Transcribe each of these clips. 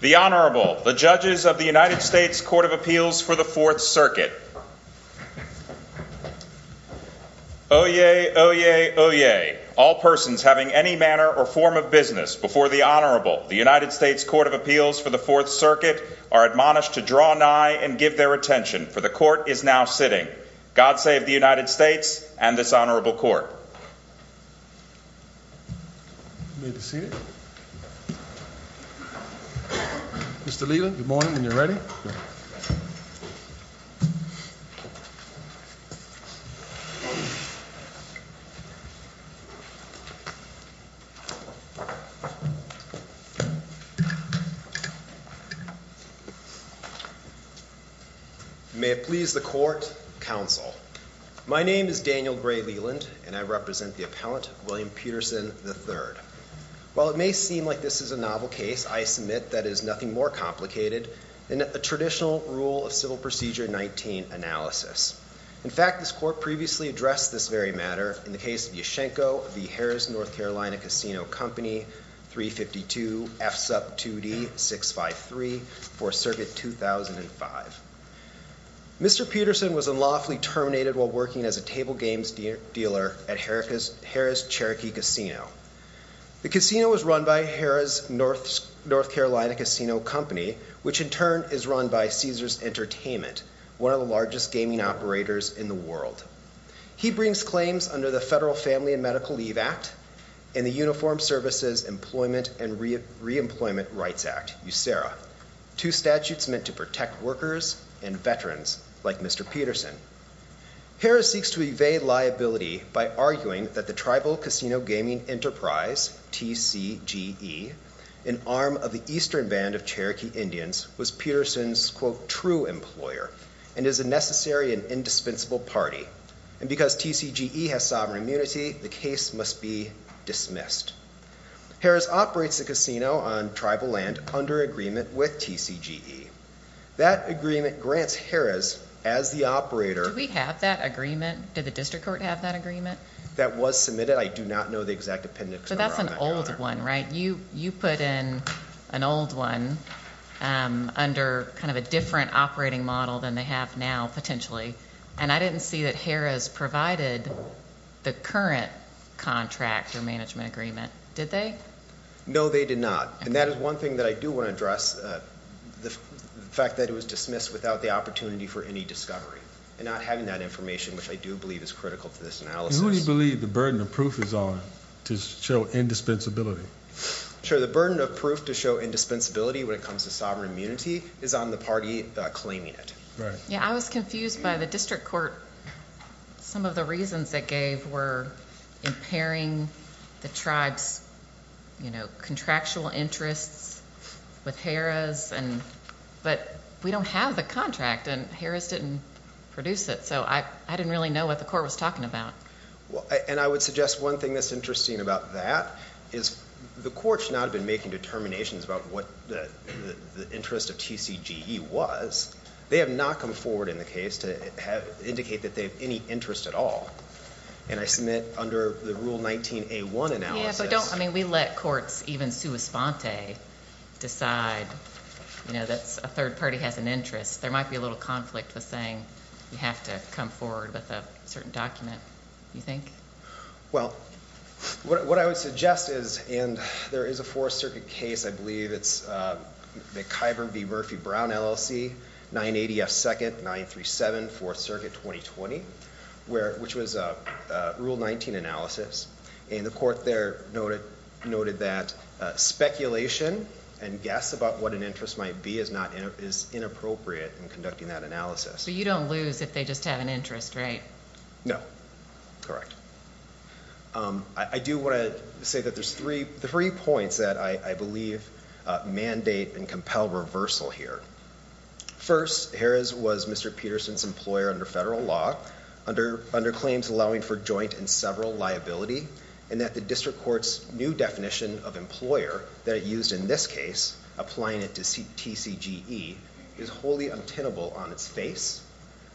The Honorable, the Judges of the United States Court of Appeals for the Fourth Circuit. Oyez, oyez, oyez, all persons having any manner or form of business before the Honorable, the United States Court of Appeals for the Fourth Circuit, are admonished to draw nigh and give their attention, for the Court is now sitting. God save the United States and this Honorable Court. You may be seated. Mr. Leland, good morning, when you're ready. May it please the Court, Counsel. My name is Daniel Gray Leland, and I represent the appellant, William Peterson, III. While it may seem like this is a novel case, I submit that it is nothing more complicated than a traditional rule of civil procedure 19 analysis. In fact, this Court previously addressed this very matter in the case of Yashchenko v. Harrah's NC Casino Company, 352 F Sup 2D 653, Fourth Circuit, 2005. Mr. Peterson was unlawfully terminated while working as a table games dealer at Harrah's Cherokee Casino. The casino was run by Harrah's North Carolina Casino Company, which in turn is run by Caesars Entertainment, one of the largest gaming operators in the world. He brings claims under the Federal Family and Medical Leave Act and the Uniformed Services Employment and Reemployment Rights Act, USERRA, two statutes meant to protect workers and veterans like Mr. Peterson. Harrah's seeks to evade liability by arguing that the Tribal Casino Gaming Enterprise, TCGE, an arm of the Eastern Band of Cherokee Indians, was Peterson's, quote, true employer and is a necessary and indispensable party. And because TCGE has sovereign immunity, the case must be dismissed. Harrah's operates the casino on tribal land under agreement with TCGE. That agreement grants Harrah's as the operator. Do we have that agreement? Did the district court have that agreement? That was submitted. I do not know the exact appendix number on that counter. So that's an old one, right? You put in an old one under kind of a different operating model than they have now, potentially. And I didn't see that Harrah's provided the current contract or management agreement. Did they? No, they did not. And that is one thing that I do want to address, the fact that it was dismissed without the opportunity for any discovery and not having that information, which I do believe is critical to this analysis. Who do you believe the burden of proof is on to show indispensability? Sure. The burden of proof to show indispensability when it comes to sovereign immunity is on the party claiming it. Right. Yeah, I was confused by the district court. Some of the reasons it gave were impairing the tribe's, you know, contractual interests with Harrah's, but we don't have the contract, and Harrah's didn't produce it. So I didn't really know what the court was talking about. And I would suggest one thing that's interesting about that is the court should not have been making determinations about what the interest of TCGE was. They have not come forward in the case to indicate that they have any interest at all. And I submit under the Rule 19A1 analysis. Yeah, but don't, I mean, we let courts, even sua sponte, decide, you know, that a third party has an interest. There might be a little conflict with saying you have to come forward with a certain document, you think? Well, what I would suggest is, and there is a Fourth Circuit case, I believe it's the Kyburn v. Murphy-Brown LLC, 980 F. 2nd, 937 Fourth Circuit, 2020, which was a Rule 19 analysis. And the court there noted that speculation and guess about what an interest might be is inappropriate in conducting that analysis. So you don't lose if they just have an interest, right? No. I do want to say that there's three points that I believe mandate and compel reversal here. First, Harris was Mr. Peterson's employer under federal law, under claims allowing for joint and several liability, and that the district court's new definition of employer that it used in this case, applying it to TCGE, is wholly untenable on its face.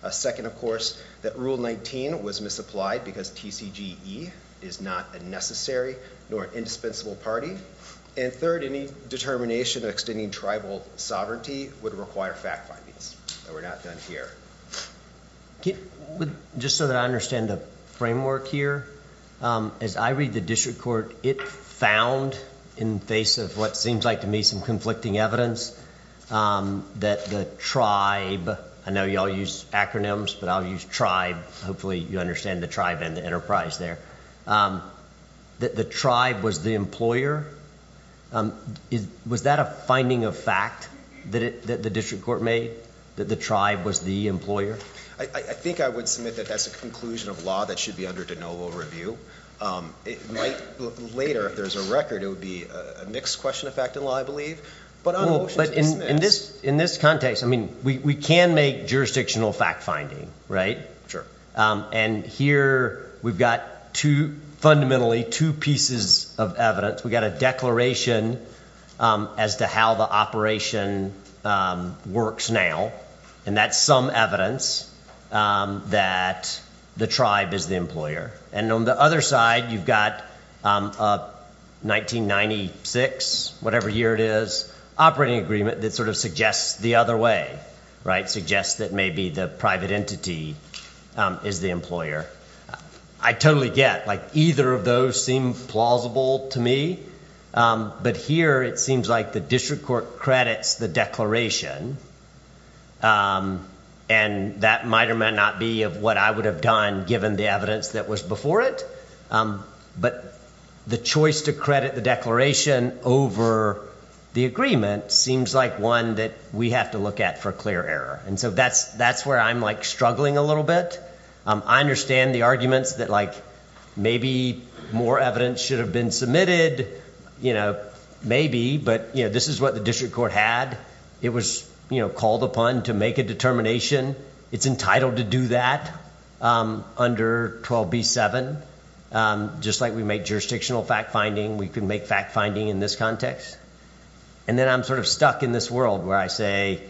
Second, of course, that Rule 19 was misapplied because TCGE is not a necessary nor an indispensable party. And third, any determination of extending tribal sovereignty would require fact findings. And we're not done here. Just so that I understand the framework here, as I read the district court, it found, in face of what seems like to me some conflicting evidence, that the tribe, I know you all use acronyms, but I'll use tribe. Hopefully you understand the tribe and the enterprise there. The tribe was the employer. Was that a finding of fact that the district court made, that the tribe was the employer? I think I would submit that that's a conclusion of law that should be under de novo review. It might later, if there's a record, it would be a mixed question of fact and law, I believe. But in this context, I mean, we can make jurisdictional fact finding, right? And here we've got fundamentally two pieces of evidence. We've got a declaration as to how the operation works now. And that's some evidence that the tribe is the employer. And on the other side, you've got 1996, whatever year it is, operating agreement that sort of suggests the other way, right? Suggests that maybe the private entity is the employer. I totally get, like, either of those seem plausible to me. But here it seems like the district court credits the declaration. And that might or might not be of what I would have done given the evidence that was before it. But the choice to credit the declaration over the agreement seems like one that we have to look at for clear error. And so that's where I'm, like, struggling a little bit. I understand the arguments that, like, maybe more evidence should have been submitted. You know, maybe. But, you know, this is what the district court had. It was, you know, called upon to make a determination. It's entitled to do that under 12b-7. Just like we make jurisdictional fact-finding, we can make fact-finding in this context. And then I'm sort of stuck in this world where I say,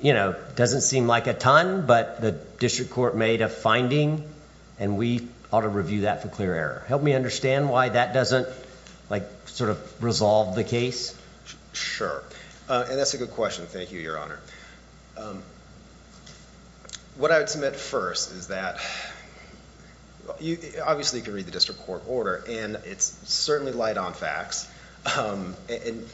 you know, doesn't seem like a ton, but the district court made a finding. And we ought to review that for clear error. Help me understand why that doesn't, like, sort of resolve the case. Sure. And that's a good question. Thank you, Your Honor. What I would submit first is that obviously you can read the district court order, and it's certainly light on facts. And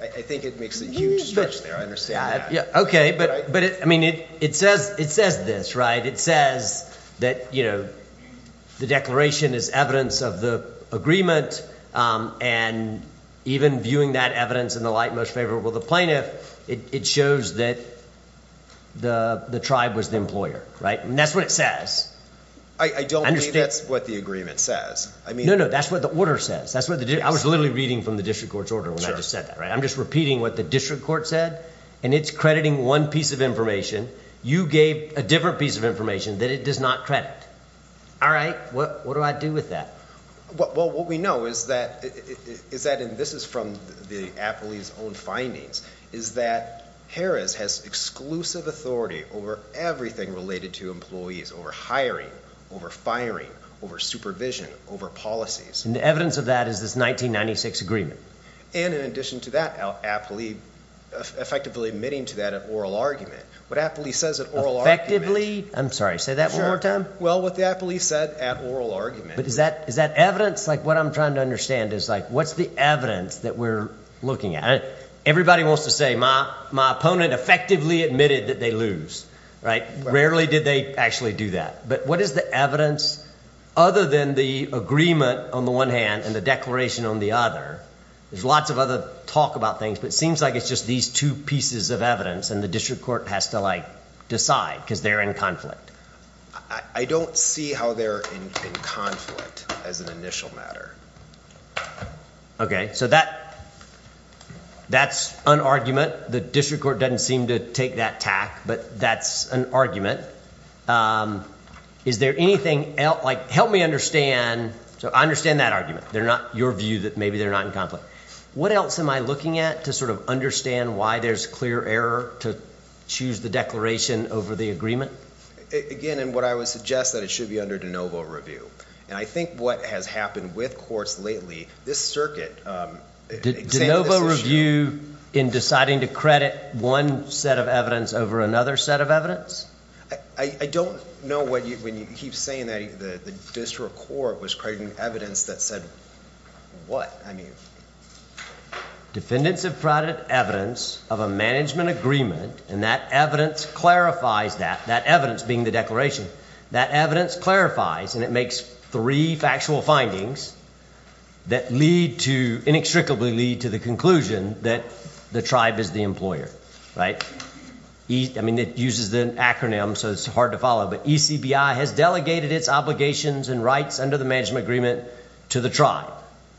I think it makes a huge stretch there. I understand that. Okay. But, I mean, it says this, right? And it says that, you know, the declaration is evidence of the agreement. And even viewing that evidence in the light most favorable of the plaintiff, it shows that the tribe was the employer, right? And that's what it says. I don't think that's what the agreement says. No, no, that's what the order says. I was literally reading from the district court's order when I just said that, right? I'm just repeating what the district court said. And it's crediting one piece of information. You gave a different piece of information that it does not credit. All right? What do I do with that? Well, what we know is that, and this is from the appellee's own findings, is that Harris has exclusive authority over everything related to employees, over hiring, over firing, over supervision, over policies. And the evidence of that is this 1996 agreement. And in addition to that, appellee effectively admitting to that at oral argument. What appellee says at oral argument. Effectively? I'm sorry, say that one more time. Well, what the appellee said at oral argument. But is that evidence? Like, what I'm trying to understand is, like, what's the evidence that we're looking at? Everybody wants to say my opponent effectively admitted that they lose, right? Rarely did they actually do that. But what is the evidence other than the agreement on the one hand and the declaration on the other? There's lots of other talk about things, but it seems like it's just these two pieces of evidence and the district court has to, like, decide because they're in conflict. I don't see how they're in conflict as an initial matter. Okay. So that's an argument. The district court doesn't seem to take that tack, but that's an argument. Is there anything else? Like, help me understand. So I understand that argument. They're not your view that maybe they're not in conflict. What else am I looking at to sort of understand why there's clear error to choose the declaration over the agreement? Again, and what I would suggest that it should be under de novo review. And I think what has happened with courts lately, this circuit. De novo review in deciding to credit one set of evidence over another set of evidence? I don't know when you keep saying that the district court was crediting evidence that said what? Defendants have credited evidence of a management agreement, and that evidence clarifies that, that evidence being the declaration. That evidence clarifies, and it makes three factual findings that lead to, inextricably lead to the conclusion that the tribe is the employer, right? I mean, it uses an acronym, so it's hard to follow. But ECBI has delegated its obligations and rights under the management agreement to the tribe,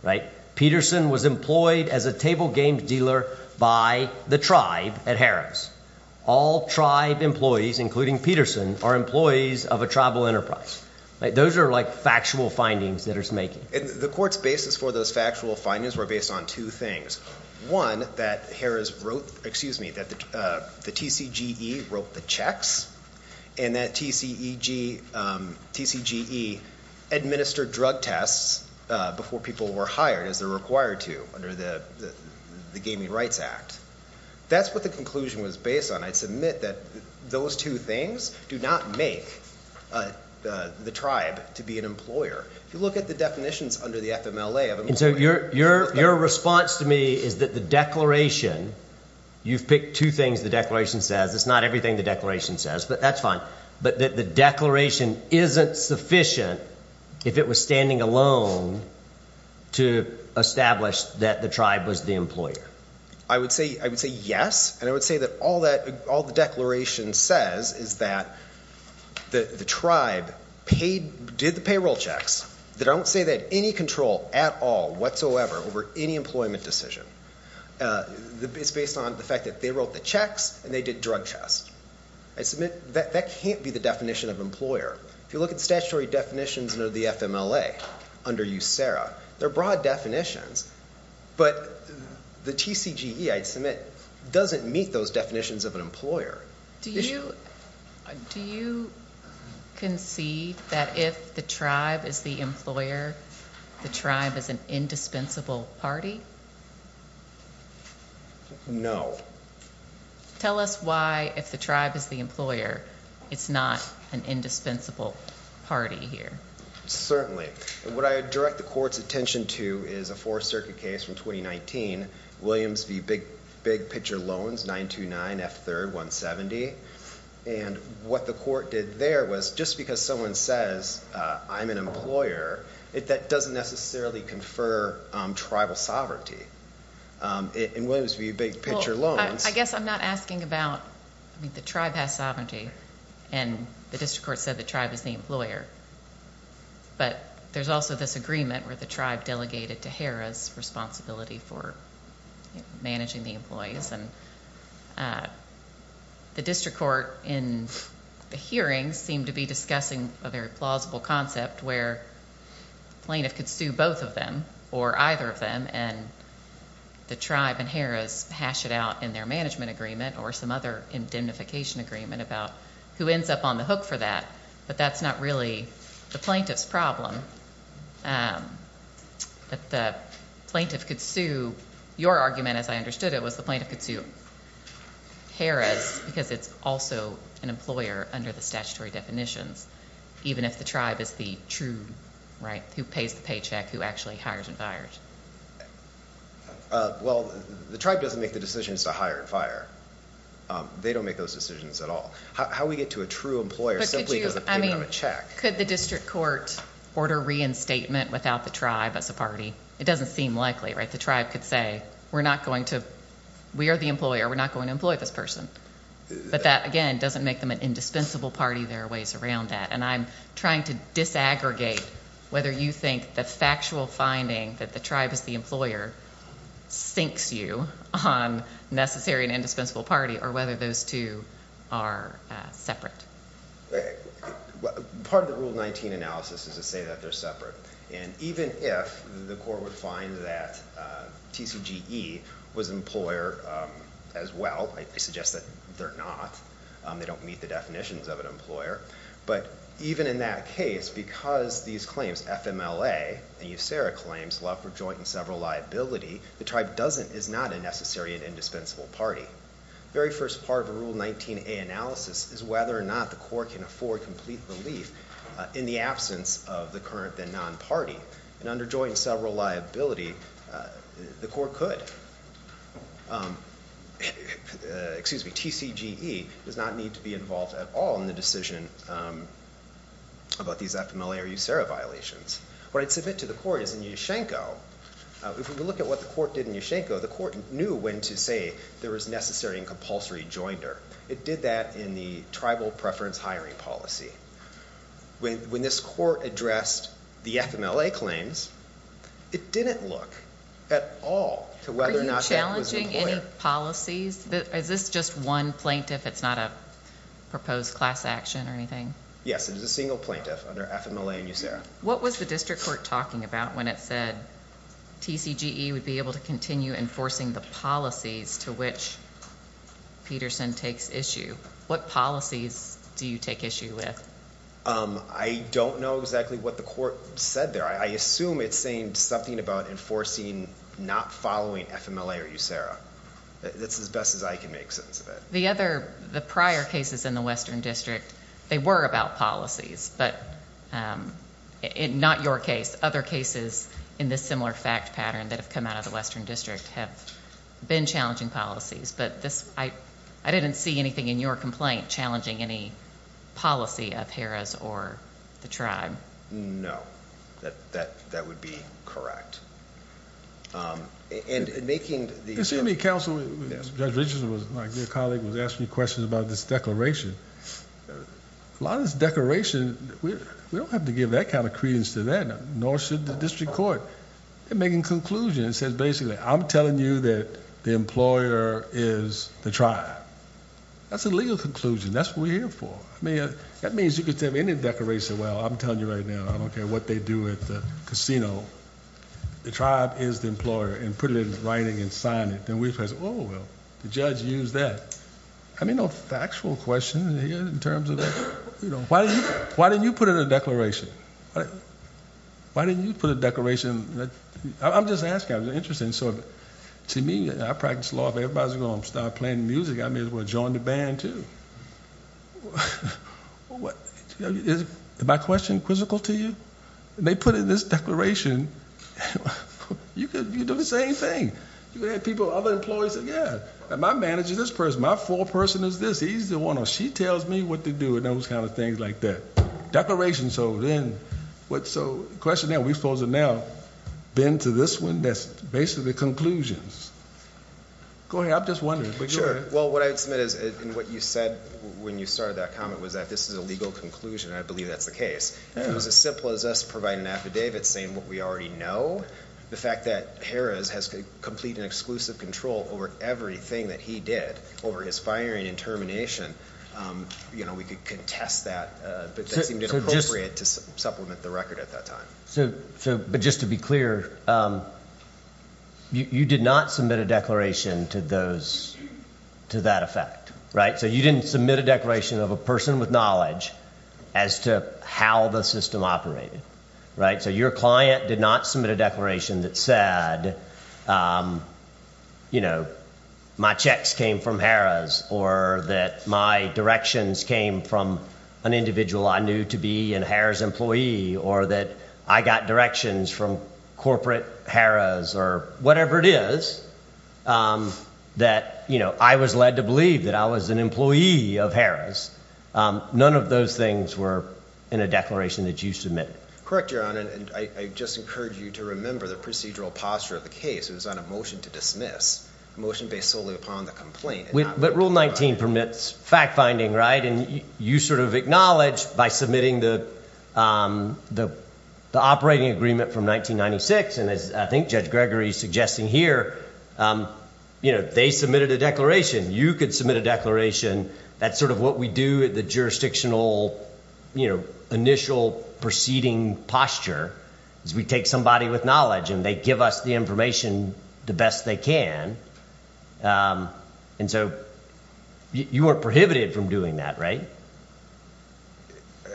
right? Peterson was employed as a table game dealer by the tribe at Harris. All tribe employees, including Peterson, are employees of a tribal enterprise. Those are, like, factual findings that it's making. And the court's basis for those factual findings were based on two things. One, that Harris wrote, excuse me, that the TCGE wrote the checks, and that TCGE administered drug tests before people were hired as they're required to under the Gaming Rights Act. That's what the conclusion was based on. I'd submit that those two things do not make the tribe to be an employer. If you look at the definitions under the FMLA of an employer. And so your response to me is that the declaration, you've picked two things the declaration says. It's not everything the declaration says, but that's fine. But that the declaration isn't sufficient if it was standing alone to establish that the tribe was the employer. I would say yes, and I would say that all the declaration says is that the tribe did the payroll checks. They don't say they had any control at all whatsoever over any employment decision. It's based on the fact that they wrote the checks and they did drug tests. I'd submit that that can't be the definition of employer. If you look at statutory definitions under the FMLA, under USERRA, they're broad definitions. But the TCGE, I'd submit, doesn't meet those definitions of an employer. Do you concede that if the tribe is the employer, the tribe is an indispensable party? No. Tell us why, if the tribe is the employer, it's not an indispensable party here. Certainly. What I direct the court's attention to is a Fourth Circuit case from 2019, Williams v. Big Pitcher Loans, 929 F. 3rd, 170. And what the court did there was just because someone says, I'm an employer, that doesn't necessarily confer tribal sovereignty. In Williams v. Big Pitcher Loans. I guess I'm not asking about, I mean, the tribe has sovereignty, and the district court said the tribe is the employer. But there's also this agreement where the tribe delegated to HERA's responsibility for managing the employees. And the district court in the hearings seemed to be discussing a very plausible concept where the plaintiff could sue both of them or either of them, and the tribe and HERA's hash it out in their management agreement or some other indemnification agreement about who ends up on the hook for that. But that's not really the plaintiff's problem. The plaintiff could sue your argument, as I understood it, was the plaintiff could sue HERA's because it's also an employer under the statutory definitions. Even if the tribe is the true, right, who pays the paycheck, who actually hires and fires. Well, the tribe doesn't make the decisions to hire and fire. They don't make those decisions at all. How do we get to a true employer simply because of payment of a check? Could the district court order reinstatement without the tribe as a party? It doesn't seem likely, right? The tribe could say, we're not going to, we are the employer, we're not going to employ this person. But that, again, doesn't make them an indispensable party. There are ways around that. And I'm trying to disaggregate whether you think the factual finding that the tribe is the employer syncs you on necessary and indispensable party or whether those two are separate. Part of the Rule 19 analysis is to say that they're separate. And even if the court would find that TCGE was an employer as well, I suggest that they're not. They don't meet the definitions of an employer. But even in that case, because these claims, FMLA and USERA claims, love for joint and several liability, the tribe doesn't, is not a necessary and indispensable party. The very first part of the Rule 19A analysis is whether or not the court can afford complete relief in the absence of the current then non-party. And under joint and several liability, the court could. Excuse me, TCGE does not need to be involved at all in the decision about these FMLA or USERA violations. What I'd submit to the court is in Ushanko, if we look at what the court did in Ushanko, the court knew when to say there was necessary and compulsory jointer. It did that in the tribal preference hiring policy. When this court addressed the FMLA claims, it didn't look at all to whether or not that was an employer. Are you challenging any policies? Is this just one plaintiff? It's not a proposed class action or anything? Yes, it is a single plaintiff under FMLA and USERA. What was the district court talking about when it said TCGE would be able to continue enforcing the policies to which Peterson takes issue? What policies do you take issue with? I don't know exactly what the court said there. I assume it's saying something about enforcing not following FMLA or USERA. That's as best as I can make sense of it. The prior cases in the Western District, they were about policies, but not your case. Other cases in this similar fact pattern that have come out of the Western District have been challenging policies, but I didn't see anything in your complaint challenging any policy of HERA's or the tribe. No, that would be correct. In seeing the counsel, Judge Richardson, my dear colleague, was asking questions about this declaration. A lot of this declaration, we don't have to give that kind of credence to that, nor should the district court. They're making conclusions. It says, basically, I'm telling you that the employer is the tribe. That's a legal conclusion. That's what we're here for. That means you could have any declaration, well, I'm telling you right now, I don't care what they do at the casino, the tribe is the employer, and put it in writing and sign it. Then we say, oh, well, the judge used that. I mean, no factual question in terms of that. Why didn't you put in a declaration? Why didn't you put a declaration? I'm just asking. I'm interested. To me, I practice law. If everybody's going to start playing music, I may as well join the band, too. Is my question quizzical to you? When they put in this declaration, you could do the same thing. You could have people, other employees, say, yeah, my manager's this person. My foreperson is this. He's the one, or she tells me what to do, and those kind of things like that. Declaration. So then, question there, we're supposed to now bend to this one that's basically conclusions. Go ahead. I'm just wondering. Sure. Well, what I would submit is, and what you said when you started that comment was that this is a legal conclusion, and I believe that's the case. If it was as simple as us providing an affidavit saying what we already know, the fact that Harris has complete and exclusive control over everything that he did over his firing and termination, we could contest that, but that seemed inappropriate to supplement the record at that time. But just to be clear, you did not submit a declaration to that effect, right? So you didn't submit a declaration of a person with knowledge as to how the system operated, right? So your client did not submit a declaration that said, you know, my checks came from Harris or that my directions came from an individual I knew to be a Harris employee or that I got directions from corporate Harris or whatever it is that, you know, I was led to believe that I was an employee of Harris. None of those things were in a declaration that you submitted. Correct, Your Honor, and I just encourage you to remember the procedural posture of the case. It was on a motion to dismiss, a motion based solely upon the complaint. But Rule 19 permits fact-finding, right? And you sort of acknowledge by submitting the operating agreement from 1996, and as I think Judge Gregory is suggesting here, you know, they submitted a declaration. You could submit a declaration. That's sort of what we do at the jurisdictional, you know, initial proceeding posture is we take somebody with knowledge and they give us the information the best they can. And so you weren't prohibited from doing that, right?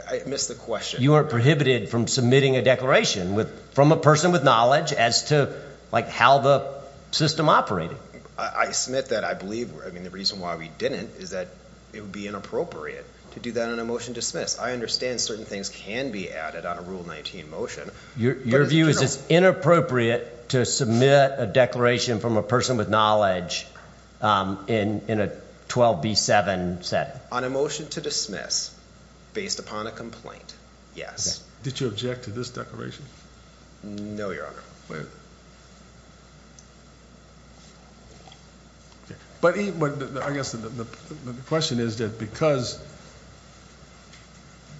I missed the question. You weren't prohibited from submitting a declaration from a person with knowledge as to, like, how the system operated. I submit that I believe, I mean, the reason why we didn't is that it would be inappropriate to do that on a motion to dismiss. I understand certain things can be added on a Rule 19 motion. Your view is it's inappropriate to submit a declaration from a person with knowledge in a 12B7 setting? On a motion to dismiss based upon a complaint, yes. Did you object to this declaration? No, Your Honor. But I guess the question is that because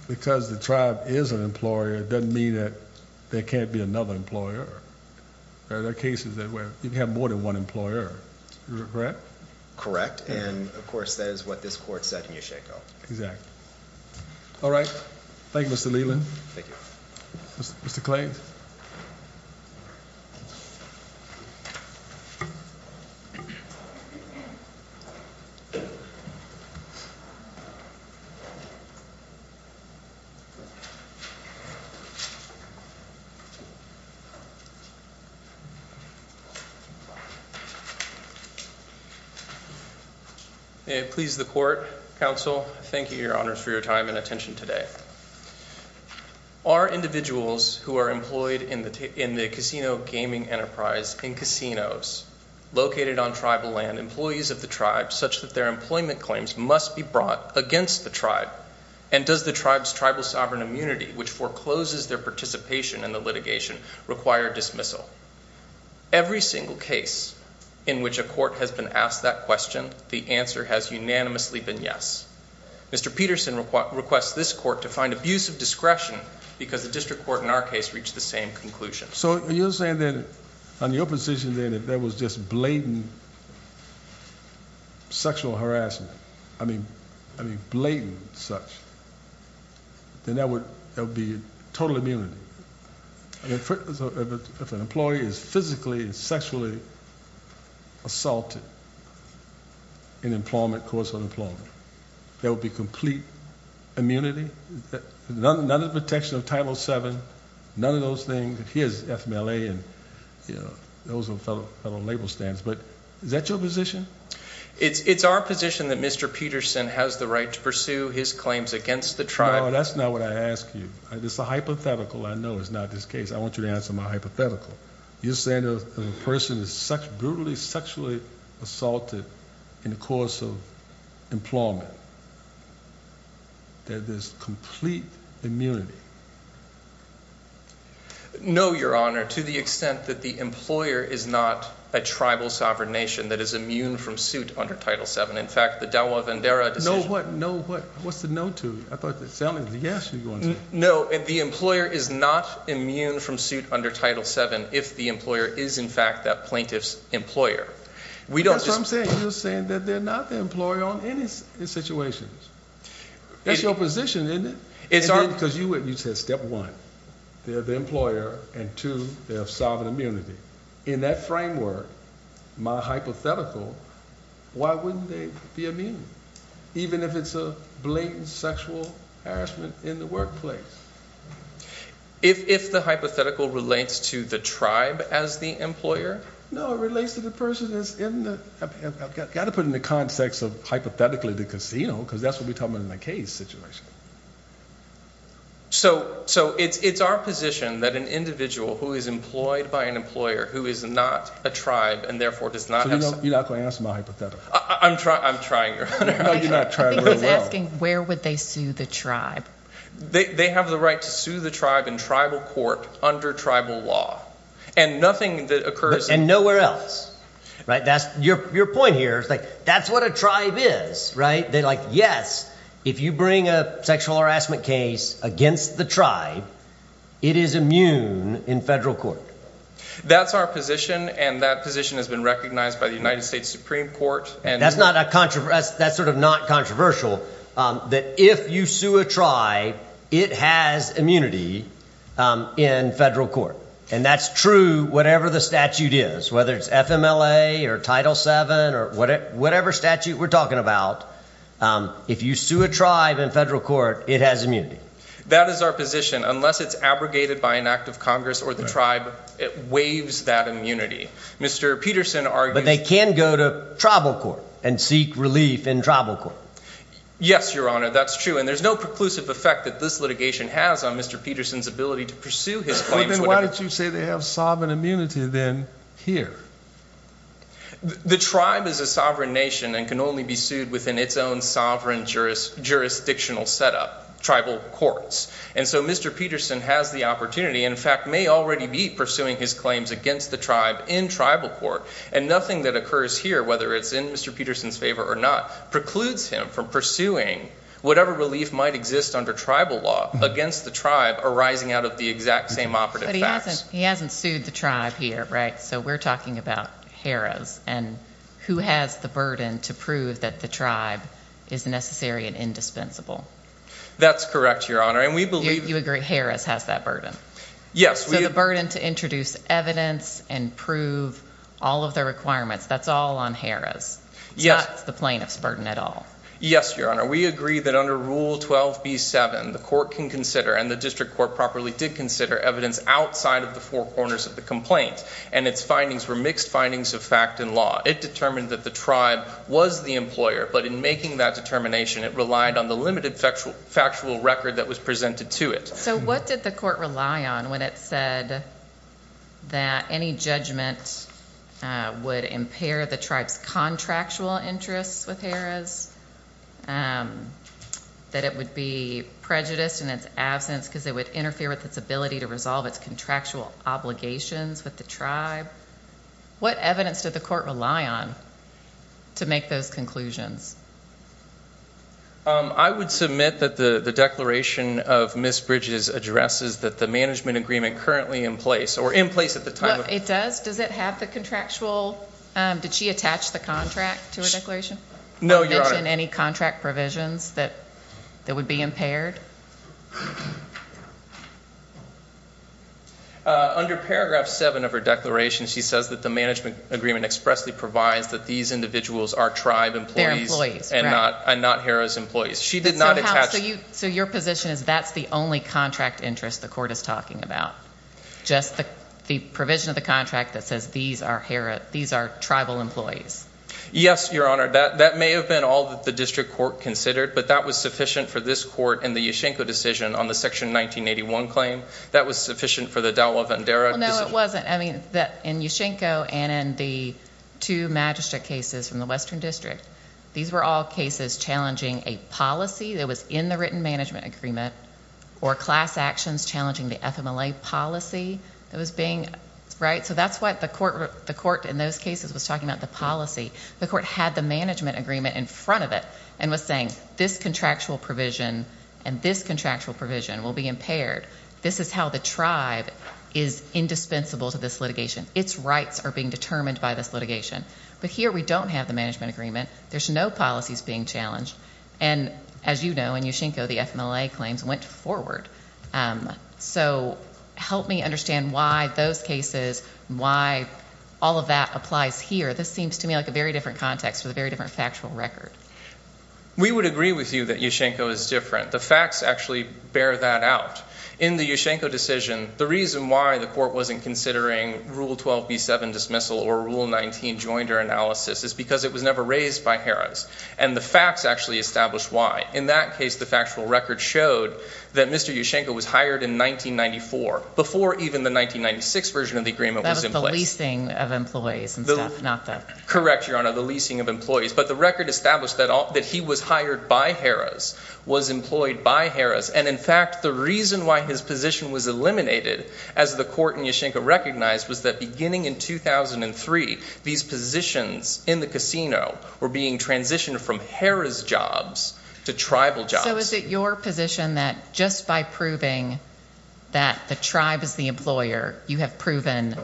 the tribe is an employer, it doesn't mean that there can't be another employer. There are cases where you can have more than one employer. Correct? Correct. And, of course, that is what this Court said in Yesheko. Exactly. All right. Thank you, Mr. Leland. Thank you. Mr. Clay. May it please the Court, Counsel, thank you, Your Honors, for your time and attention today. Are individuals who are employed in the casino gaming enterprise in casinos located on tribal land, employees of the tribe such that their employment claims must be brought against the tribe, and does the tribe's tribal sovereign immunity, which forecloses their participation in the litigation, require dismissal? Every single case in which a court has been asked that question, the answer has unanimously been yes. Mr. Peterson requests this Court to find abuse of discretion because the district court in our case reached the same conclusion. So you're saying that on your position that if there was just blatant sexual harassment, I mean blatant such, then there would be total immunity. If an employee is physically and sexually assaulted in employment, course of employment, there would be complete immunity, none of the protection of Title VII, none of those things. Here's FMLA and, you know, those are federal label stands. But is that your position? It's our position that Mr. Peterson has the right to pursue his claims against the tribe. No, that's not what I asked you. It's a hypothetical. I know it's not this case. I want you to answer my hypothetical. You're saying that if a person is brutally, sexually assaulted in the course of employment, that there's complete immunity. No, Your Honor, to the extent that the employer is not a tribal sovereign nation that is immune from suit under Title VII. In fact, the Delaware-Vendera decision— No what? No what? What's the no to? I thought that sounded like a yes you were going to say. No, the employer is not immune from suit under Title VII if the employer is in fact that plaintiff's employer. That's what I'm saying. You're saying that they're not the employer on any situations. That's your position, isn't it? It's our— Because you said step one, they're the employer, and two, they have sovereign immunity. In that framework, my hypothetical, why wouldn't they be immune? Even if it's a blatant sexual harassment in the workplace. If the hypothetical relates to the tribe as the employer? No, it relates to the person that's in the—I've got to put it in the context of hypothetically the casino because that's what we're talking about in the case situation. So it's our position that an individual who is employed by an employer who is not a tribe and therefore does not have— So you're not going to answer my hypothetical? I'm trying, Your Honor. I think he's asking where would they sue the tribe? They have the right to sue the tribe in tribal court under tribal law. And nothing that occurs— And nowhere else, right? Your point here is like that's what a tribe is, right? They're like yes, if you bring a sexual harassment case against the tribe, it is immune in federal court. That's our position, and that position has been recognized by the United States Supreme Court. That's sort of not controversial, that if you sue a tribe, it has immunity in federal court. And that's true whatever the statute is, whether it's FMLA or Title VII or whatever statute we're talking about. If you sue a tribe in federal court, it has immunity. That is our position. Unless it's abrogated by an act of Congress or the tribe, it waives that immunity. Mr. Peterson argues— But they can go to tribal court and seek relief in tribal court. Yes, Your Honor, that's true, and there's no preclusive effect that this litigation has on Mr. Peterson's ability to pursue his claims. Then why did you say they have sovereign immunity then here? The tribe is a sovereign nation and can only be sued within its own sovereign jurisdictional setup, tribal courts. And so Mr. Peterson has the opportunity and, in fact, may already be pursuing his claims against the tribe in tribal court. And nothing that occurs here, whether it's in Mr. Peterson's favor or not, precludes him from pursuing whatever relief might exist under tribal law against the tribe arising out of the exact same operative facts. But he hasn't sued the tribe here, right? So we're talking about Harris. And who has the burden to prove that the tribe is necessary and indispensable? That's correct, Your Honor, and we believe— You agree Harris has that burden? Yes, we— So the burden to introduce evidence and prove all of the requirements, that's all on Harris? Yes. It's not the plaintiff's burden at all? Yes, Your Honor. We agree that under Rule 12b-7, the court can consider, and the district court properly did consider, evidence outside of the four corners of the complaint. And its findings were mixed findings of fact and law. It determined that the tribe was the employer, but in making that determination, it relied on the limited factual record that was presented to it. So what did the court rely on when it said that any judgment would impair the tribe's contractual interests with Harris? That it would be prejudiced in its absence because it would interfere with its ability to resolve its contractual obligations with the tribe? What evidence did the court rely on to make those conclusions? I would submit that the declaration of Ms. Bridges addresses that the management agreement currently in place, or in place at the time— It does? Does it have the contractual—did she attach the contract to her declaration? No, Your Honor. Or mention any contract provisions that would be impaired? Under Paragraph 7 of her declaration, she says that the management agreement expressly provides that these individuals are tribe employees— They're employees, right. —and not Harris employees. She did not attach— So, House, so your position is that's the only contract interest the court is talking about? Just the provision of the contract that says these are tribal employees? Yes, Your Honor. That may have been all that the district court considered, but that was sufficient for this court and the U.S. Supreme Court to consider. The Yushchenko decision on the Section 1981 claim, that was sufficient for the Dowell-Vendera— No, it wasn't. I mean, in Yushchenko and in the two magistrate cases from the Western District, these were all cases challenging a policy that was in the written management agreement, or class actions challenging the FMLA policy that was being—right? So that's what the court in those cases was talking about, the policy. The court had the management agreement in front of it and was saying this contractual provision and this contractual provision will be impaired. This is how the tribe is indispensable to this litigation. Its rights are being determined by this litigation. But here we don't have the management agreement. There's no policies being challenged. And as you know, in Yushchenko, the FMLA claims went forward. So help me understand why those cases, why all of that applies here. This seems to me like a very different context with a very different factual record. We would agree with you that Yushchenko is different. The facts actually bear that out. In the Yushchenko decision, the reason why the court wasn't considering Rule 12b-7 dismissal or Rule 19 joinder analysis is because it was never raised by Harris. And the facts actually establish why. In that case, the factual record showed that Mr. Yushchenko was hired in 1994 before even the 1996 version of the agreement was in place. That was the leasing of employees and staff, not the— Correct, Your Honor, the leasing of employees. But the record established that he was hired by Harris, was employed by Harris. And, in fact, the reason why his position was eliminated as the court in Yushchenko recognized was that beginning in 2003, these positions in the casino were being transitioned from Harris jobs to tribal jobs. So is it your position that just by proving that the tribe is the employer, you have proven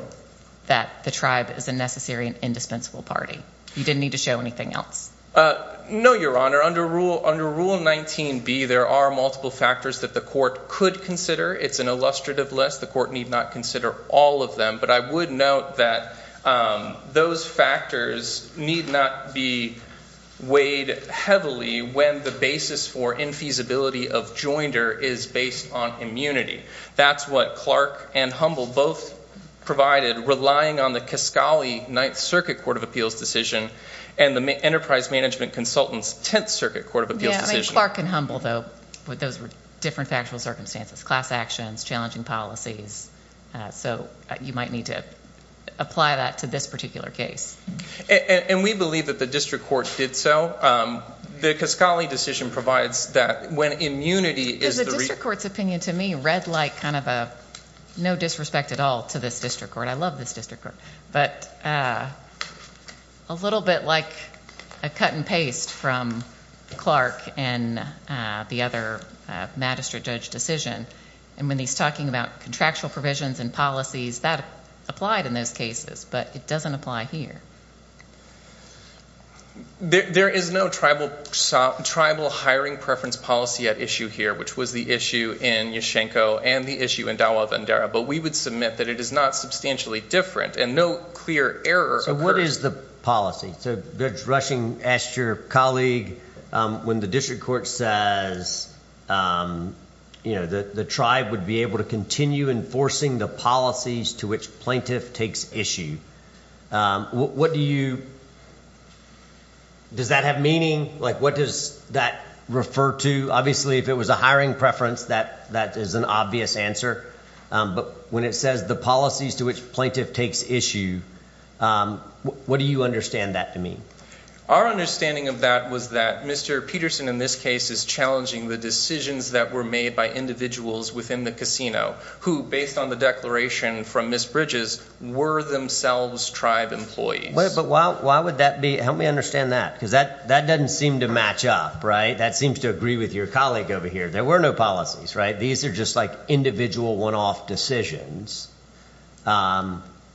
that the tribe is a necessary and indispensable party? You didn't need to show anything else? No, Your Honor. Under Rule 19b, there are multiple factors that the court could consider. It's an illustrative list. The court need not consider all of them. But I would note that those factors need not be weighed heavily when the basis for infeasibility of joinder is based on immunity. That's what Clark and Humble both provided, relying on the Kaskali Ninth Circuit Court of Appeals decision and the Enterprise Management Consultant's Tenth Circuit Court of Appeals decision. Yeah, I mean, Clark and Humble, though, those were different factual circumstances, class actions, challenging policies. So you might need to apply that to this particular case. And we believe that the district court did so. The Kaskali decision provides that when immunity is the— To me, red light, kind of a no disrespect at all to this district court. I love this district court. But a little bit like a cut and paste from Clark and the other magistrate judge decision. And when he's talking about contractual provisions and policies, that applied in those cases, but it doesn't apply here. There is no tribal hiring preference policy at issue here, which was the issue in Yeshenko and the issue in Dawa Vandara. But we would submit that it is not substantially different and no clear error occurs. So what is the policy? So Judge Rushing asked your colleague, when the district court says the tribe would be able to continue enforcing the policies to which plaintiff takes issue, what do you—does that have meaning? Like, what does that refer to? Obviously, if it was a hiring preference, that is an obvious answer. But when it says the policies to which plaintiff takes issue, what do you understand that to mean? Our understanding of that was that Mr. Peterson in this case is challenging the decisions that were made by individuals within the casino who, based on the declaration from Ms. Bridges, were themselves tribe employees. But why would that be? Help me understand that, because that doesn't seem to match up, right? That seems to agree with your colleague over here. There were no policies, right? These are just, like, individual one-off decisions.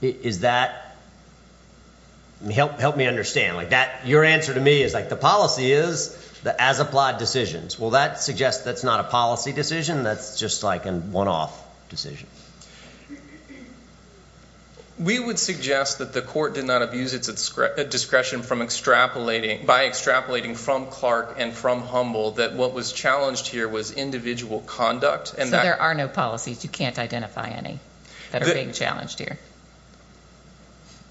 Is that—help me understand. Like, your answer to me is, like, the policy is the as-applied decisions. Well, that suggests that's not a policy decision. That's just, like, a one-off decision. We would suggest that the court did not abuse its discretion by extrapolating from Clark and from Humble that what was challenged here was individual conduct. So there are no policies. You can't identify any that are being challenged here.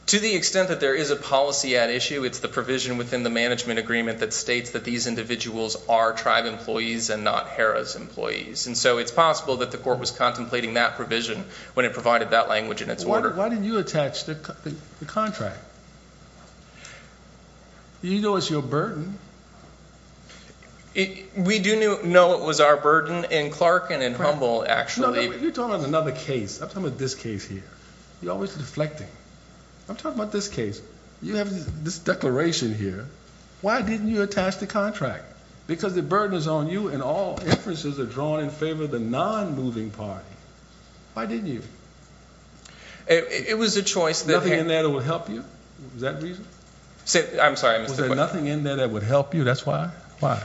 To the extent that there is a policy at issue, it's the provision within the management agreement that states that these individuals are tribe employees and not Harrah's employees. And so it's possible that the court was contemplating that provision when it provided that language in its order. Why didn't you attach the contract? You know it's your burden. We do know it was our burden in Clark and in Humble, actually. You're talking about another case. I'm talking about this case here. You're always deflecting. I'm talking about this case. You have this declaration here. Why didn't you attach the contract? Because the burden is on you and all inferences are drawn in favor of the non-moving party. Why didn't you? It was a choice. Nothing in there that would help you? Was that the reason? I'm sorry. Was there nothing in there that would help you? That's why? Why?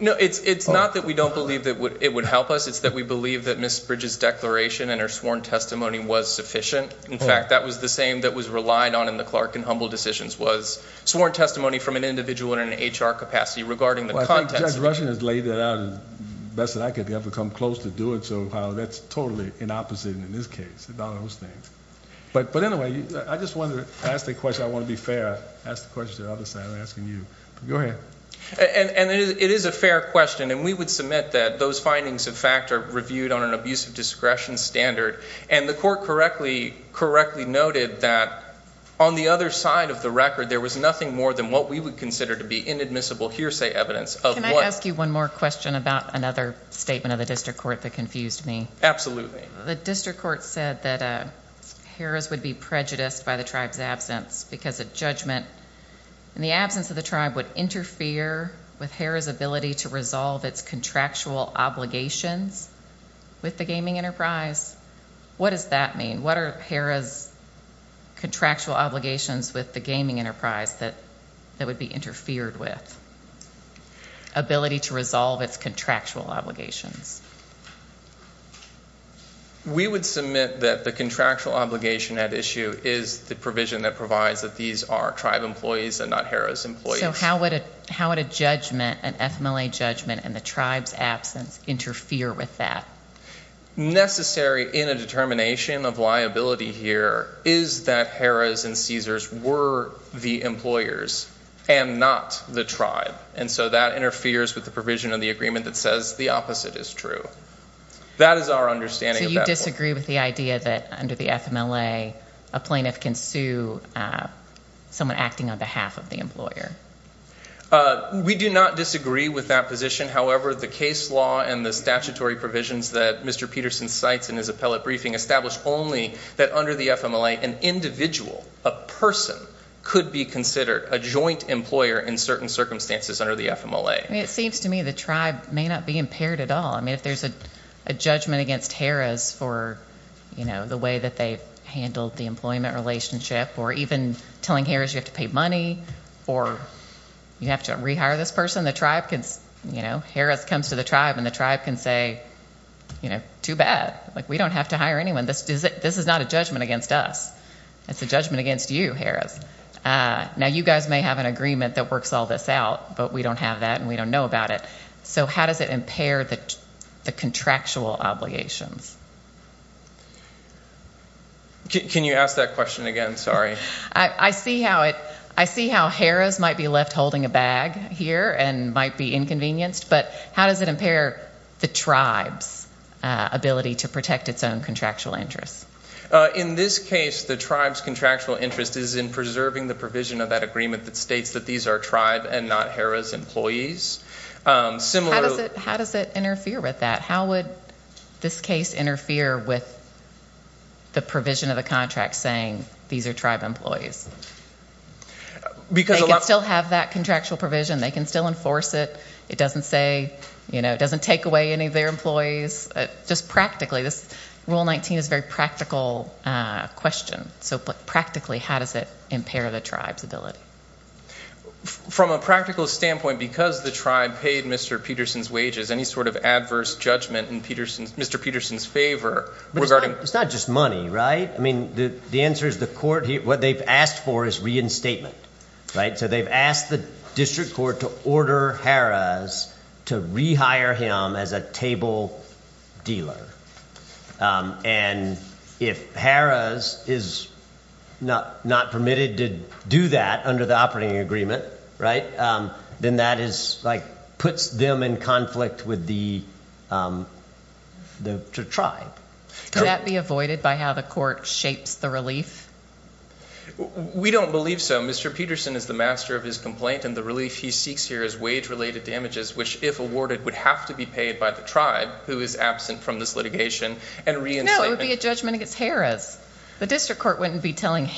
No, it's not that we don't believe that it would help us. It's that we believe that Ms. Bridges' declaration and her sworn testimony was sufficient. In fact, that was the same that was relied on in the Clark and Humble decisions was sworn testimony from an individual in an HR capacity regarding the context. Well, I think Judge Rushing has laid that out the best that I could ever come close to do it. So, that's totally an opposite in this case about those things. But anyway, I just wanted to ask the question. I want to be fair, ask the question to the other side. I'm asking you. Go ahead. And it is a fair question. And we would submit that those findings, in fact, are reviewed on an abuse of discretion standard. And the court correctly noted that on the other side of the record, there was nothing more than what we would consider to be inadmissible hearsay evidence. Can I ask you one more question about another statement of the district court that confused me? Absolutely. The district court said that Harrah's would be prejudiced by the tribe's absence because of judgment. And the absence of the tribe would interfere with Harrah's ability to resolve its contractual obligations with the gaming enterprise. What does that mean? What are Harrah's contractual obligations with the gaming enterprise that would be interfered with? Ability to resolve its contractual obligations. We would submit that the contractual obligation at issue is the provision that provides that these are tribe employees and not Harrah's employees. So, how would a judgment, an FMLA judgment, and the tribe's absence interfere with that? Necessary in a determination of liability here is that Harrah's and Caesar's were the employers and not the tribe. And so, that interferes with the provision of the agreement that says the opposite is true. That is our understanding of that. So, you disagree with the idea that under the FMLA, a plaintiff can sue someone acting on behalf of the employer? We do not disagree with that position. However, the case law and the statutory provisions that Mr. Peterson cites in his appellate briefing establish only that under the FMLA, an individual, a person, could be considered a joint employer in certain circumstances under the FMLA. It seems to me the tribe may not be impaired at all. I mean, if there's a judgment against Harrah's for, you know, the way that they handled the employment relationship or even telling Harrah's you have to pay money or you have to rehire this person, Harrah's comes to the tribe and the tribe can say, you know, too bad. We don't have to hire anyone. This is not a judgment against us. It's a judgment against you, Harrah's. Now, you guys may have an agreement that works all this out, but we don't have that and we don't know about it. So, how does it impair the contractual obligations? Can you ask that question again? Sorry. I see how Harrah's might be left holding a bag here and might be inconvenienced, but how does it impair the tribe's ability to protect its own contractual interests? In this case, the tribe's contractual interest is in preserving the provision of that agreement that states that these are tribe and not Harrah's employees. How does it interfere with that? They can still have that contractual provision. They can still enforce it. It doesn't say, you know, it doesn't take away any of their employees. Just practically, this Rule 19 is a very practical question. So, practically, how does it impair the tribe's ability? From a practical standpoint, because the tribe paid Mr. Peterson's wages, any sort of adverse judgment in Mr. Peterson's favor regarding It's not just money, right? I mean, the answer is the court, what they've asked for is reinstatement, right? So, they've asked the district court to order Harrah's to rehire him as a table dealer. And if Harrah's is not permitted to do that under the operating agreement, right, then that is like puts them in conflict with the tribe. Can that be avoided by how the court shapes the relief? We don't believe so. Mr. Peterson is the master of his complaint, and the relief he seeks here is wage-related damages, which, if awarded, would have to be paid by the tribe, who is absent from this litigation, and reinstatement. No, it would be a judgment against Harrah's. The district court wouldn't be telling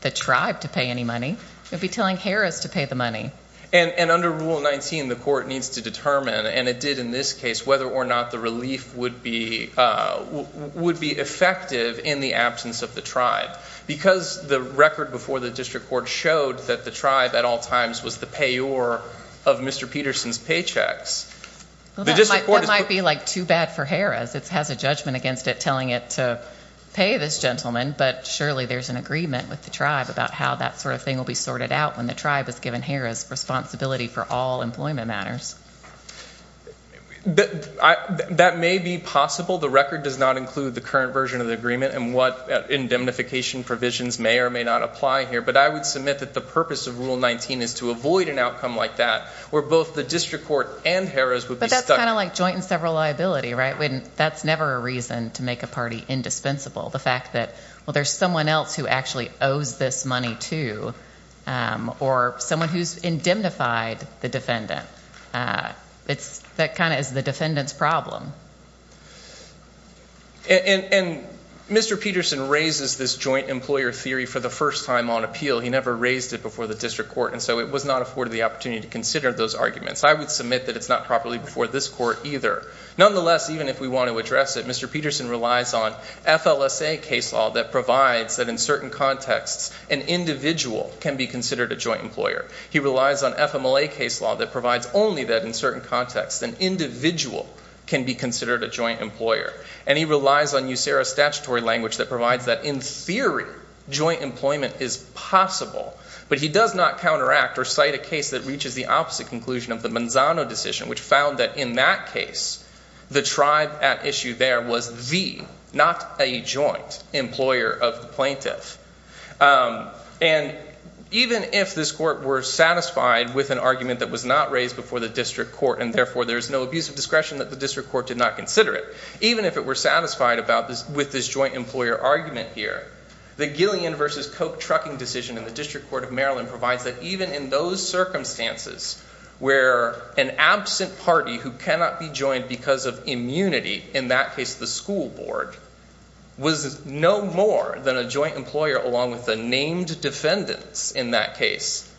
the tribe to pay any money. It would be telling Harrah's to pay the money. And under Rule 19, the court needs to determine, and it did in this case, whether or not the relief would be effective in the absence of the tribe. Because the record before the district court showed that the tribe, at all times, was the payor of Mr. Peterson's paychecks. That might be, like, too bad for Harrah's. It has a judgment against it telling it to pay this gentleman, but surely there's an agreement with the tribe about how that sort of thing will be sorted out when the tribe is given Harrah's responsibility for all employment matters. That may be possible. The record does not include the current version of the agreement and what indemnification provisions may or may not apply here. But I would submit that the purpose of Rule 19 is to avoid an outcome like that, where both the district court and Harrah's would be stuck. But that's kind of like joint and several liability, right? That's never a reason to make a party indispensable. The fact that, well, there's someone else who actually owes this money to, or someone who's indemnified the defendant, that kind of is the defendant's problem. And Mr. Peterson raises this joint employer theory for the first time on appeal. He never raised it before the district court, and so it was not afforded the opportunity to consider those arguments. I would submit that it's not properly before this court either. Nonetheless, even if we want to address it, Mr. Peterson relies on FLSA case law that provides that, in certain contexts, an individual can be considered a joint employer. He relies on FMLA case law that provides only that, in certain contexts, an individual can be considered a joint employer. And he relies on USERA statutory language that provides that, in theory, joint employment is possible. But he does not counteract or cite a case that reaches the opposite conclusion of the Manzano decision, which found that, in that case, the tribe at issue there was the, not a joint, employer of the plaintiff. And even if this court were satisfied with an argument that was not raised before the district court, and therefore there's no abuse of discretion that the district court did not consider it, even if it were satisfied with this joint employer argument here, the Gillian v. Coke trucking decision in the District Court of Maryland provides that, even in those circumstances, where an absent party who cannot be joined because of immunity, in that case the school board, was no more than a joint employer along with the named defendants in that case,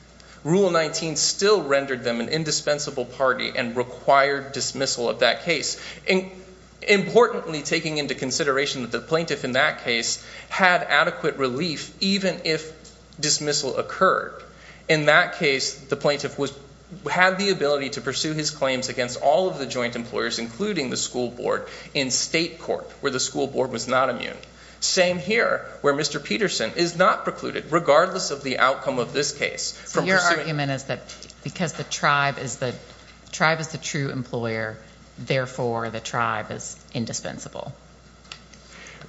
Rule 19 still rendered them an indispensable party and required dismissal of that case. Importantly, taking into consideration that the plaintiff in that case had adequate relief, even if dismissal occurred. In that case, the plaintiff had the ability to pursue his claims against all of the joint employers, including the school board, in state court, where the school board was not immune. Same here, where Mr. Peterson is not precluded, regardless of the outcome of this case. So your argument is that because the tribe is the true employer, therefore the tribe is indispensable.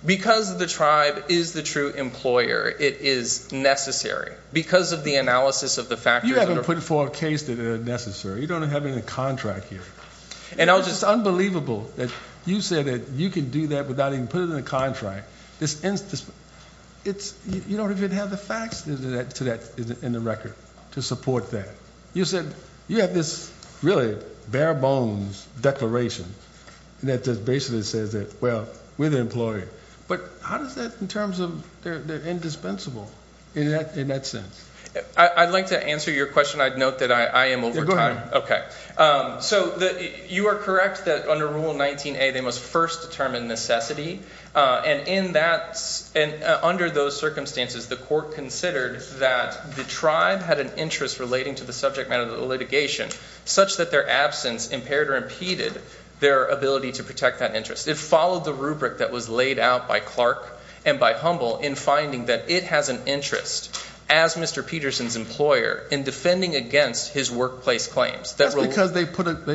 Because the tribe is the true employer, it is necessary. Because of the analysis of the factors. You haven't put forth a case that is necessary. You don't have any contract here. It's just unbelievable that you said that you can do that without even putting in a contract. You don't even have the facts in the record to support that. You said you have this really bare bones declaration that just basically says that, well, we're the employer. But how does that, in terms of they're indispensable, in that sense? I'd like to answer your question. I'd note that I am over time. Okay. So you are correct that under Rule 19A, they must first determine necessity. And in that, under those circumstances, the court considered that the tribe had an interest relating to the subject matter of the litigation, such that their absence impaired or impeded their ability to protect that interest. It followed the rubric that was laid out by Clark and by Humble in finding that it has an interest, as Mr. Peterson's employer, in defending against his workplace claims. That's because they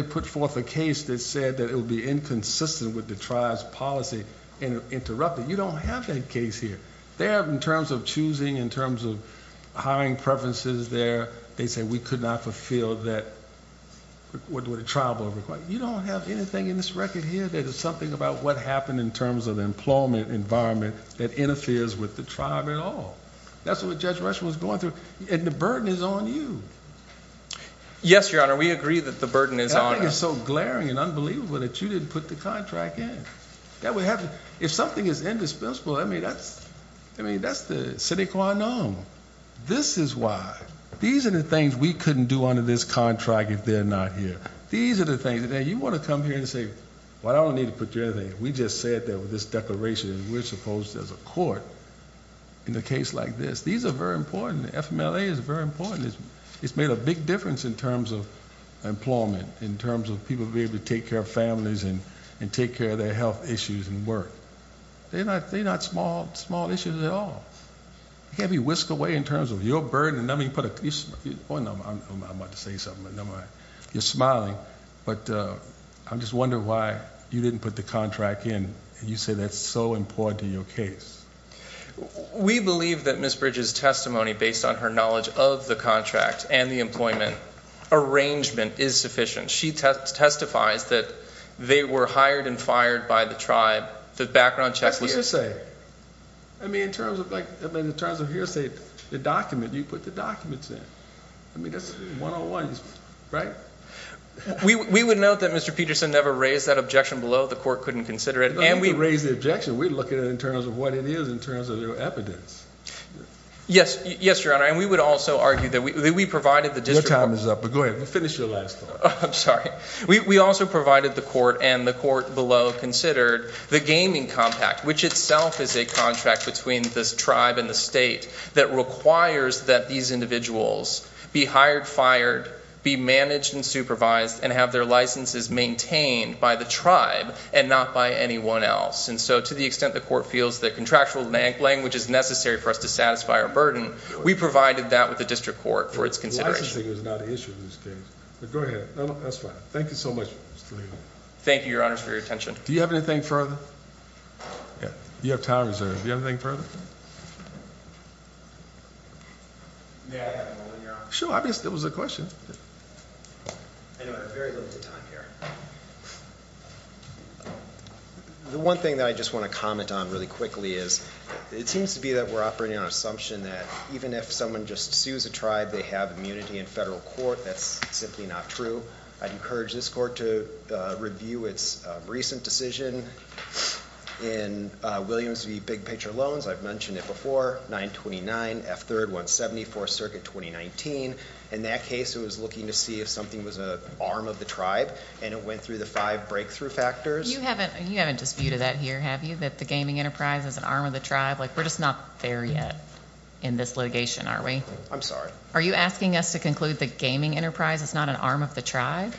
put forth a case that said that it would be inconsistent with the tribe's policy and interrupted. You don't have that case here. They have, in terms of choosing, in terms of hiring preferences there, they say we could not fulfill that with a trial board request. You don't have anything in this record here that is something about what happened in terms of the employment environment that interferes with the tribe at all. That's what Judge Rush was going through. And the burden is on you. Yes, Your Honor, we agree that the burden is on us. That thing is so glaring and unbelievable that you didn't put the contract in. If something is indispensable, I mean, that's the sine qua non. This is why. These are the things we couldn't do under this contract if they're not here. These are the things that you want to come here and say, well, I don't need to put you anything. We just said that with this declaration and we're supposed to as a court in a case like this. These are very important. The FMLA is very important. It's made a big difference in terms of employment, in terms of people being able to take care of families and take care of their health issues and work. They're not small issues at all. You can't be whisked away in terms of your burden. I'm about to say something, but never mind. You're smiling. I'm just wondering why you didn't put the contract in and you say that's so important to your case. We believe that Ms. Bridges' testimony, based on her knowledge of the contract and the employment arrangement, is sufficient. She testifies that they were hired and fired by the tribe. The background check was used. I mean, in terms of hearsay, the document, you put the documents in. I mean, that's one-on-one, right? We would note that Mr. Peterson never raised that objection below. The court couldn't consider it. He didn't raise the objection. We're looking at it in terms of what it is, in terms of your evidence. Yes, Your Honor. And we would also argue that we provided the district court. Your time is up, but go ahead. Finish your last thought. I'm sorry. We also provided the court, and the court below considered, the gaming compact, which itself is a contract between this tribe and the state that requires that these individuals be hired, fired, be managed and supervised, and have their licenses maintained by the tribe and not by anyone else. And so, to the extent the court feels that contractual language is necessary for us to satisfy our burden, we provided that with the district court for its consideration. Licensing is not an issue in this case. But go ahead. No, no, that's fine. Thank you so much, Mr. Lee. Thank you, Your Honor, for your attention. Do you have anything further? You have time reserved. Do you have anything further? May I have a moment, Your Honor? Sure. Obviously, it was a question. I know I have very little time here. The one thing that I just want to comment on really quickly is, it seems to be that we're operating on an assumption that even if someone just sues a tribe, they have immunity in federal court. That's simply not true. I'd encourage this court to review its recent decision in Williams v. Big Picture Loans. I've mentioned it before. 929, F3rd, 174, 4th Circuit, 2019. In that case, it was looking to see if something was an arm of the tribe. And it went through the five breakthrough factors. You haven't disputed that here, have you? That the gaming enterprise is an arm of the tribe? Like, we're just not there yet in this litigation, are we? I'm sorry? Are you asking us to conclude the gaming enterprise is not an arm of the tribe?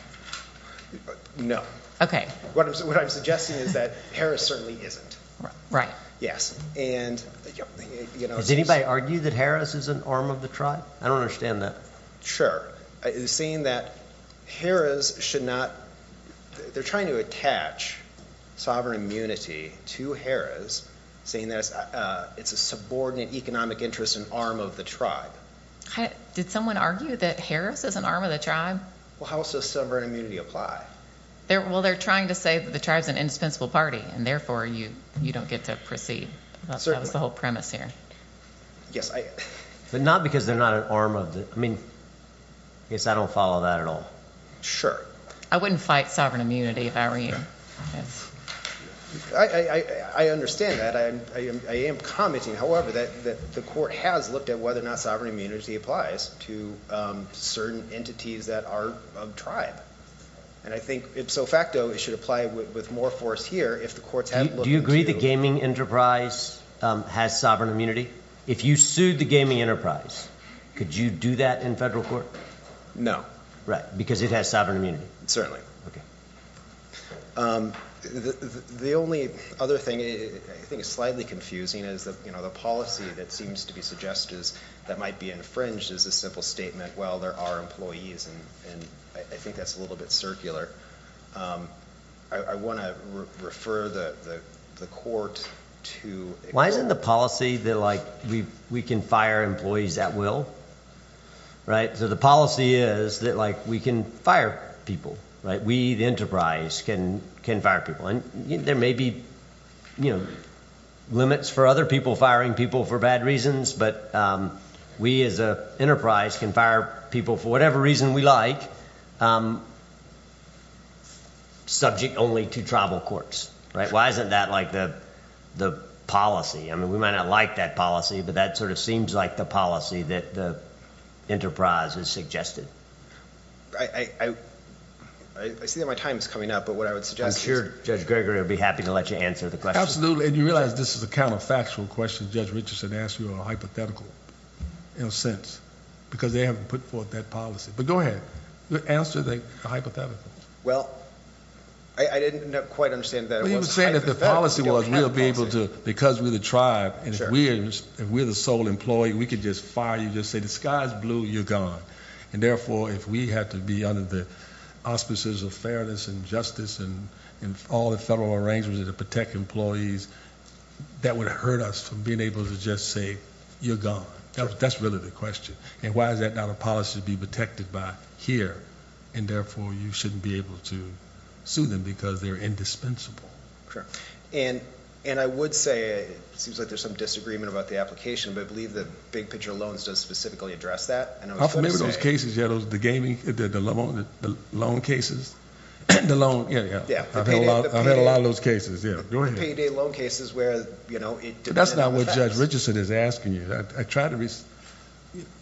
No. Okay. What I'm suggesting is that Harris certainly isn't. Right. Yes. Does anybody argue that Harris is an arm of the tribe? I don't understand that. It's saying that Harris should not – they're trying to attach sovereign immunity to Harris, saying that it's a subordinate economic interest and arm of the tribe. Did someone argue that Harris is an arm of the tribe? Well, how else does sovereign immunity apply? Well, they're trying to say that the tribe is an indispensable party, and therefore you don't get to proceed. That was the whole premise here. But not because they're not an arm of the – I mean, I guess I don't follow that at all. Sure. I wouldn't fight sovereign immunity if I were you. I understand that. I am commenting, however, that the court has looked at whether or not sovereign immunity applies to certain entities that are of tribe. And I think, ipso facto, it should apply with more force here if the courts have looked into – Do you agree the gaming enterprise has sovereign immunity? If you sued the gaming enterprise, could you do that in federal court? No. Right, because it has sovereign immunity. Okay. The only other thing I think is slightly confusing is the policy that seems to be suggested that might be infringed is a simple statement, well, there are employees, and I think that's a little bit circular. I want to refer the court to – Why isn't the policy that, like, we can fire employees at will? Right? So the policy is that, like, we can fire people. Right? We, the enterprise, can fire people. And there may be limits for other people firing people for bad reasons, but we as an enterprise can fire people for whatever reason we like, subject only to tribal courts. Right? Why isn't that, like, the policy? I mean, we might not like that policy, but that sort of seems like the policy that the enterprise has suggested. I see that my time is coming up, but what I would suggest is – I'm sure Judge Gregory would be happy to let you answer the question. Absolutely. And you realize this is a counterfactual question Judge Richardson asked you, or hypothetical, in a sense, because they haven't put forth that policy. But go ahead. Answer the hypothetical. Well, I didn't quite understand that it was hypothetical. Well, he was saying if the policy was we'll be able to, because we're the tribe, and if we're the sole employee, we could just fire you, just say the sky is blue, you're gone. And therefore, if we had to be under the auspices of fairness and justice and all the federal arrangements to protect employees, that would hurt us from being able to just say you're gone. That's really the question. And why is that not a policy to be protected by here? And therefore, you shouldn't be able to sue them because they're indispensable. Sure. And I would say it seems like there's some disagreement about the application, but I believe the big picture loans does specifically address that. I'm familiar with those cases. The loan cases? I've had a lot of those cases. The payday loan cases where it depends on the facts. That's not what Judge Richardson is asking you.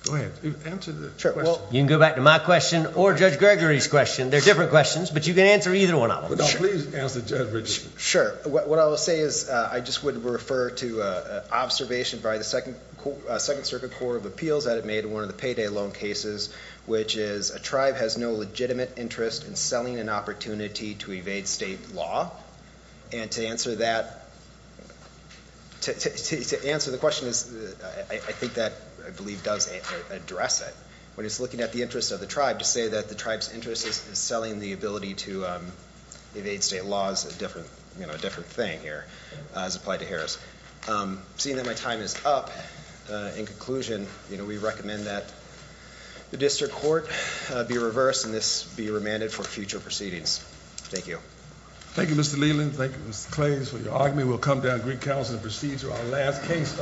Go ahead. Answer the question. You can go back to my question or Judge Gregory's question. They're different questions, but you can answer either one of them. Please answer Judge Richardson. Sure. What I will say is I just would refer to an observation by the Second Circuit Court of Appeals that it made in one of the payday loan cases, which is a tribe has no legitimate interest in selling an opportunity to evade state law. And to answer the question, I think that I believe does address it. When it's looking at the interest of the tribe to say that the tribe's interest is selling the ability to evade state law is a different thing here as applied to Harris. Seeing that my time is up, in conclusion, we recommend that the district court be reversed and this be remanded for future proceedings. Thank you. Thank you, Mr. Leland. Thank you, Mr. Clays, for your argument. We'll come down to Greek Council and proceed to our last case of the term.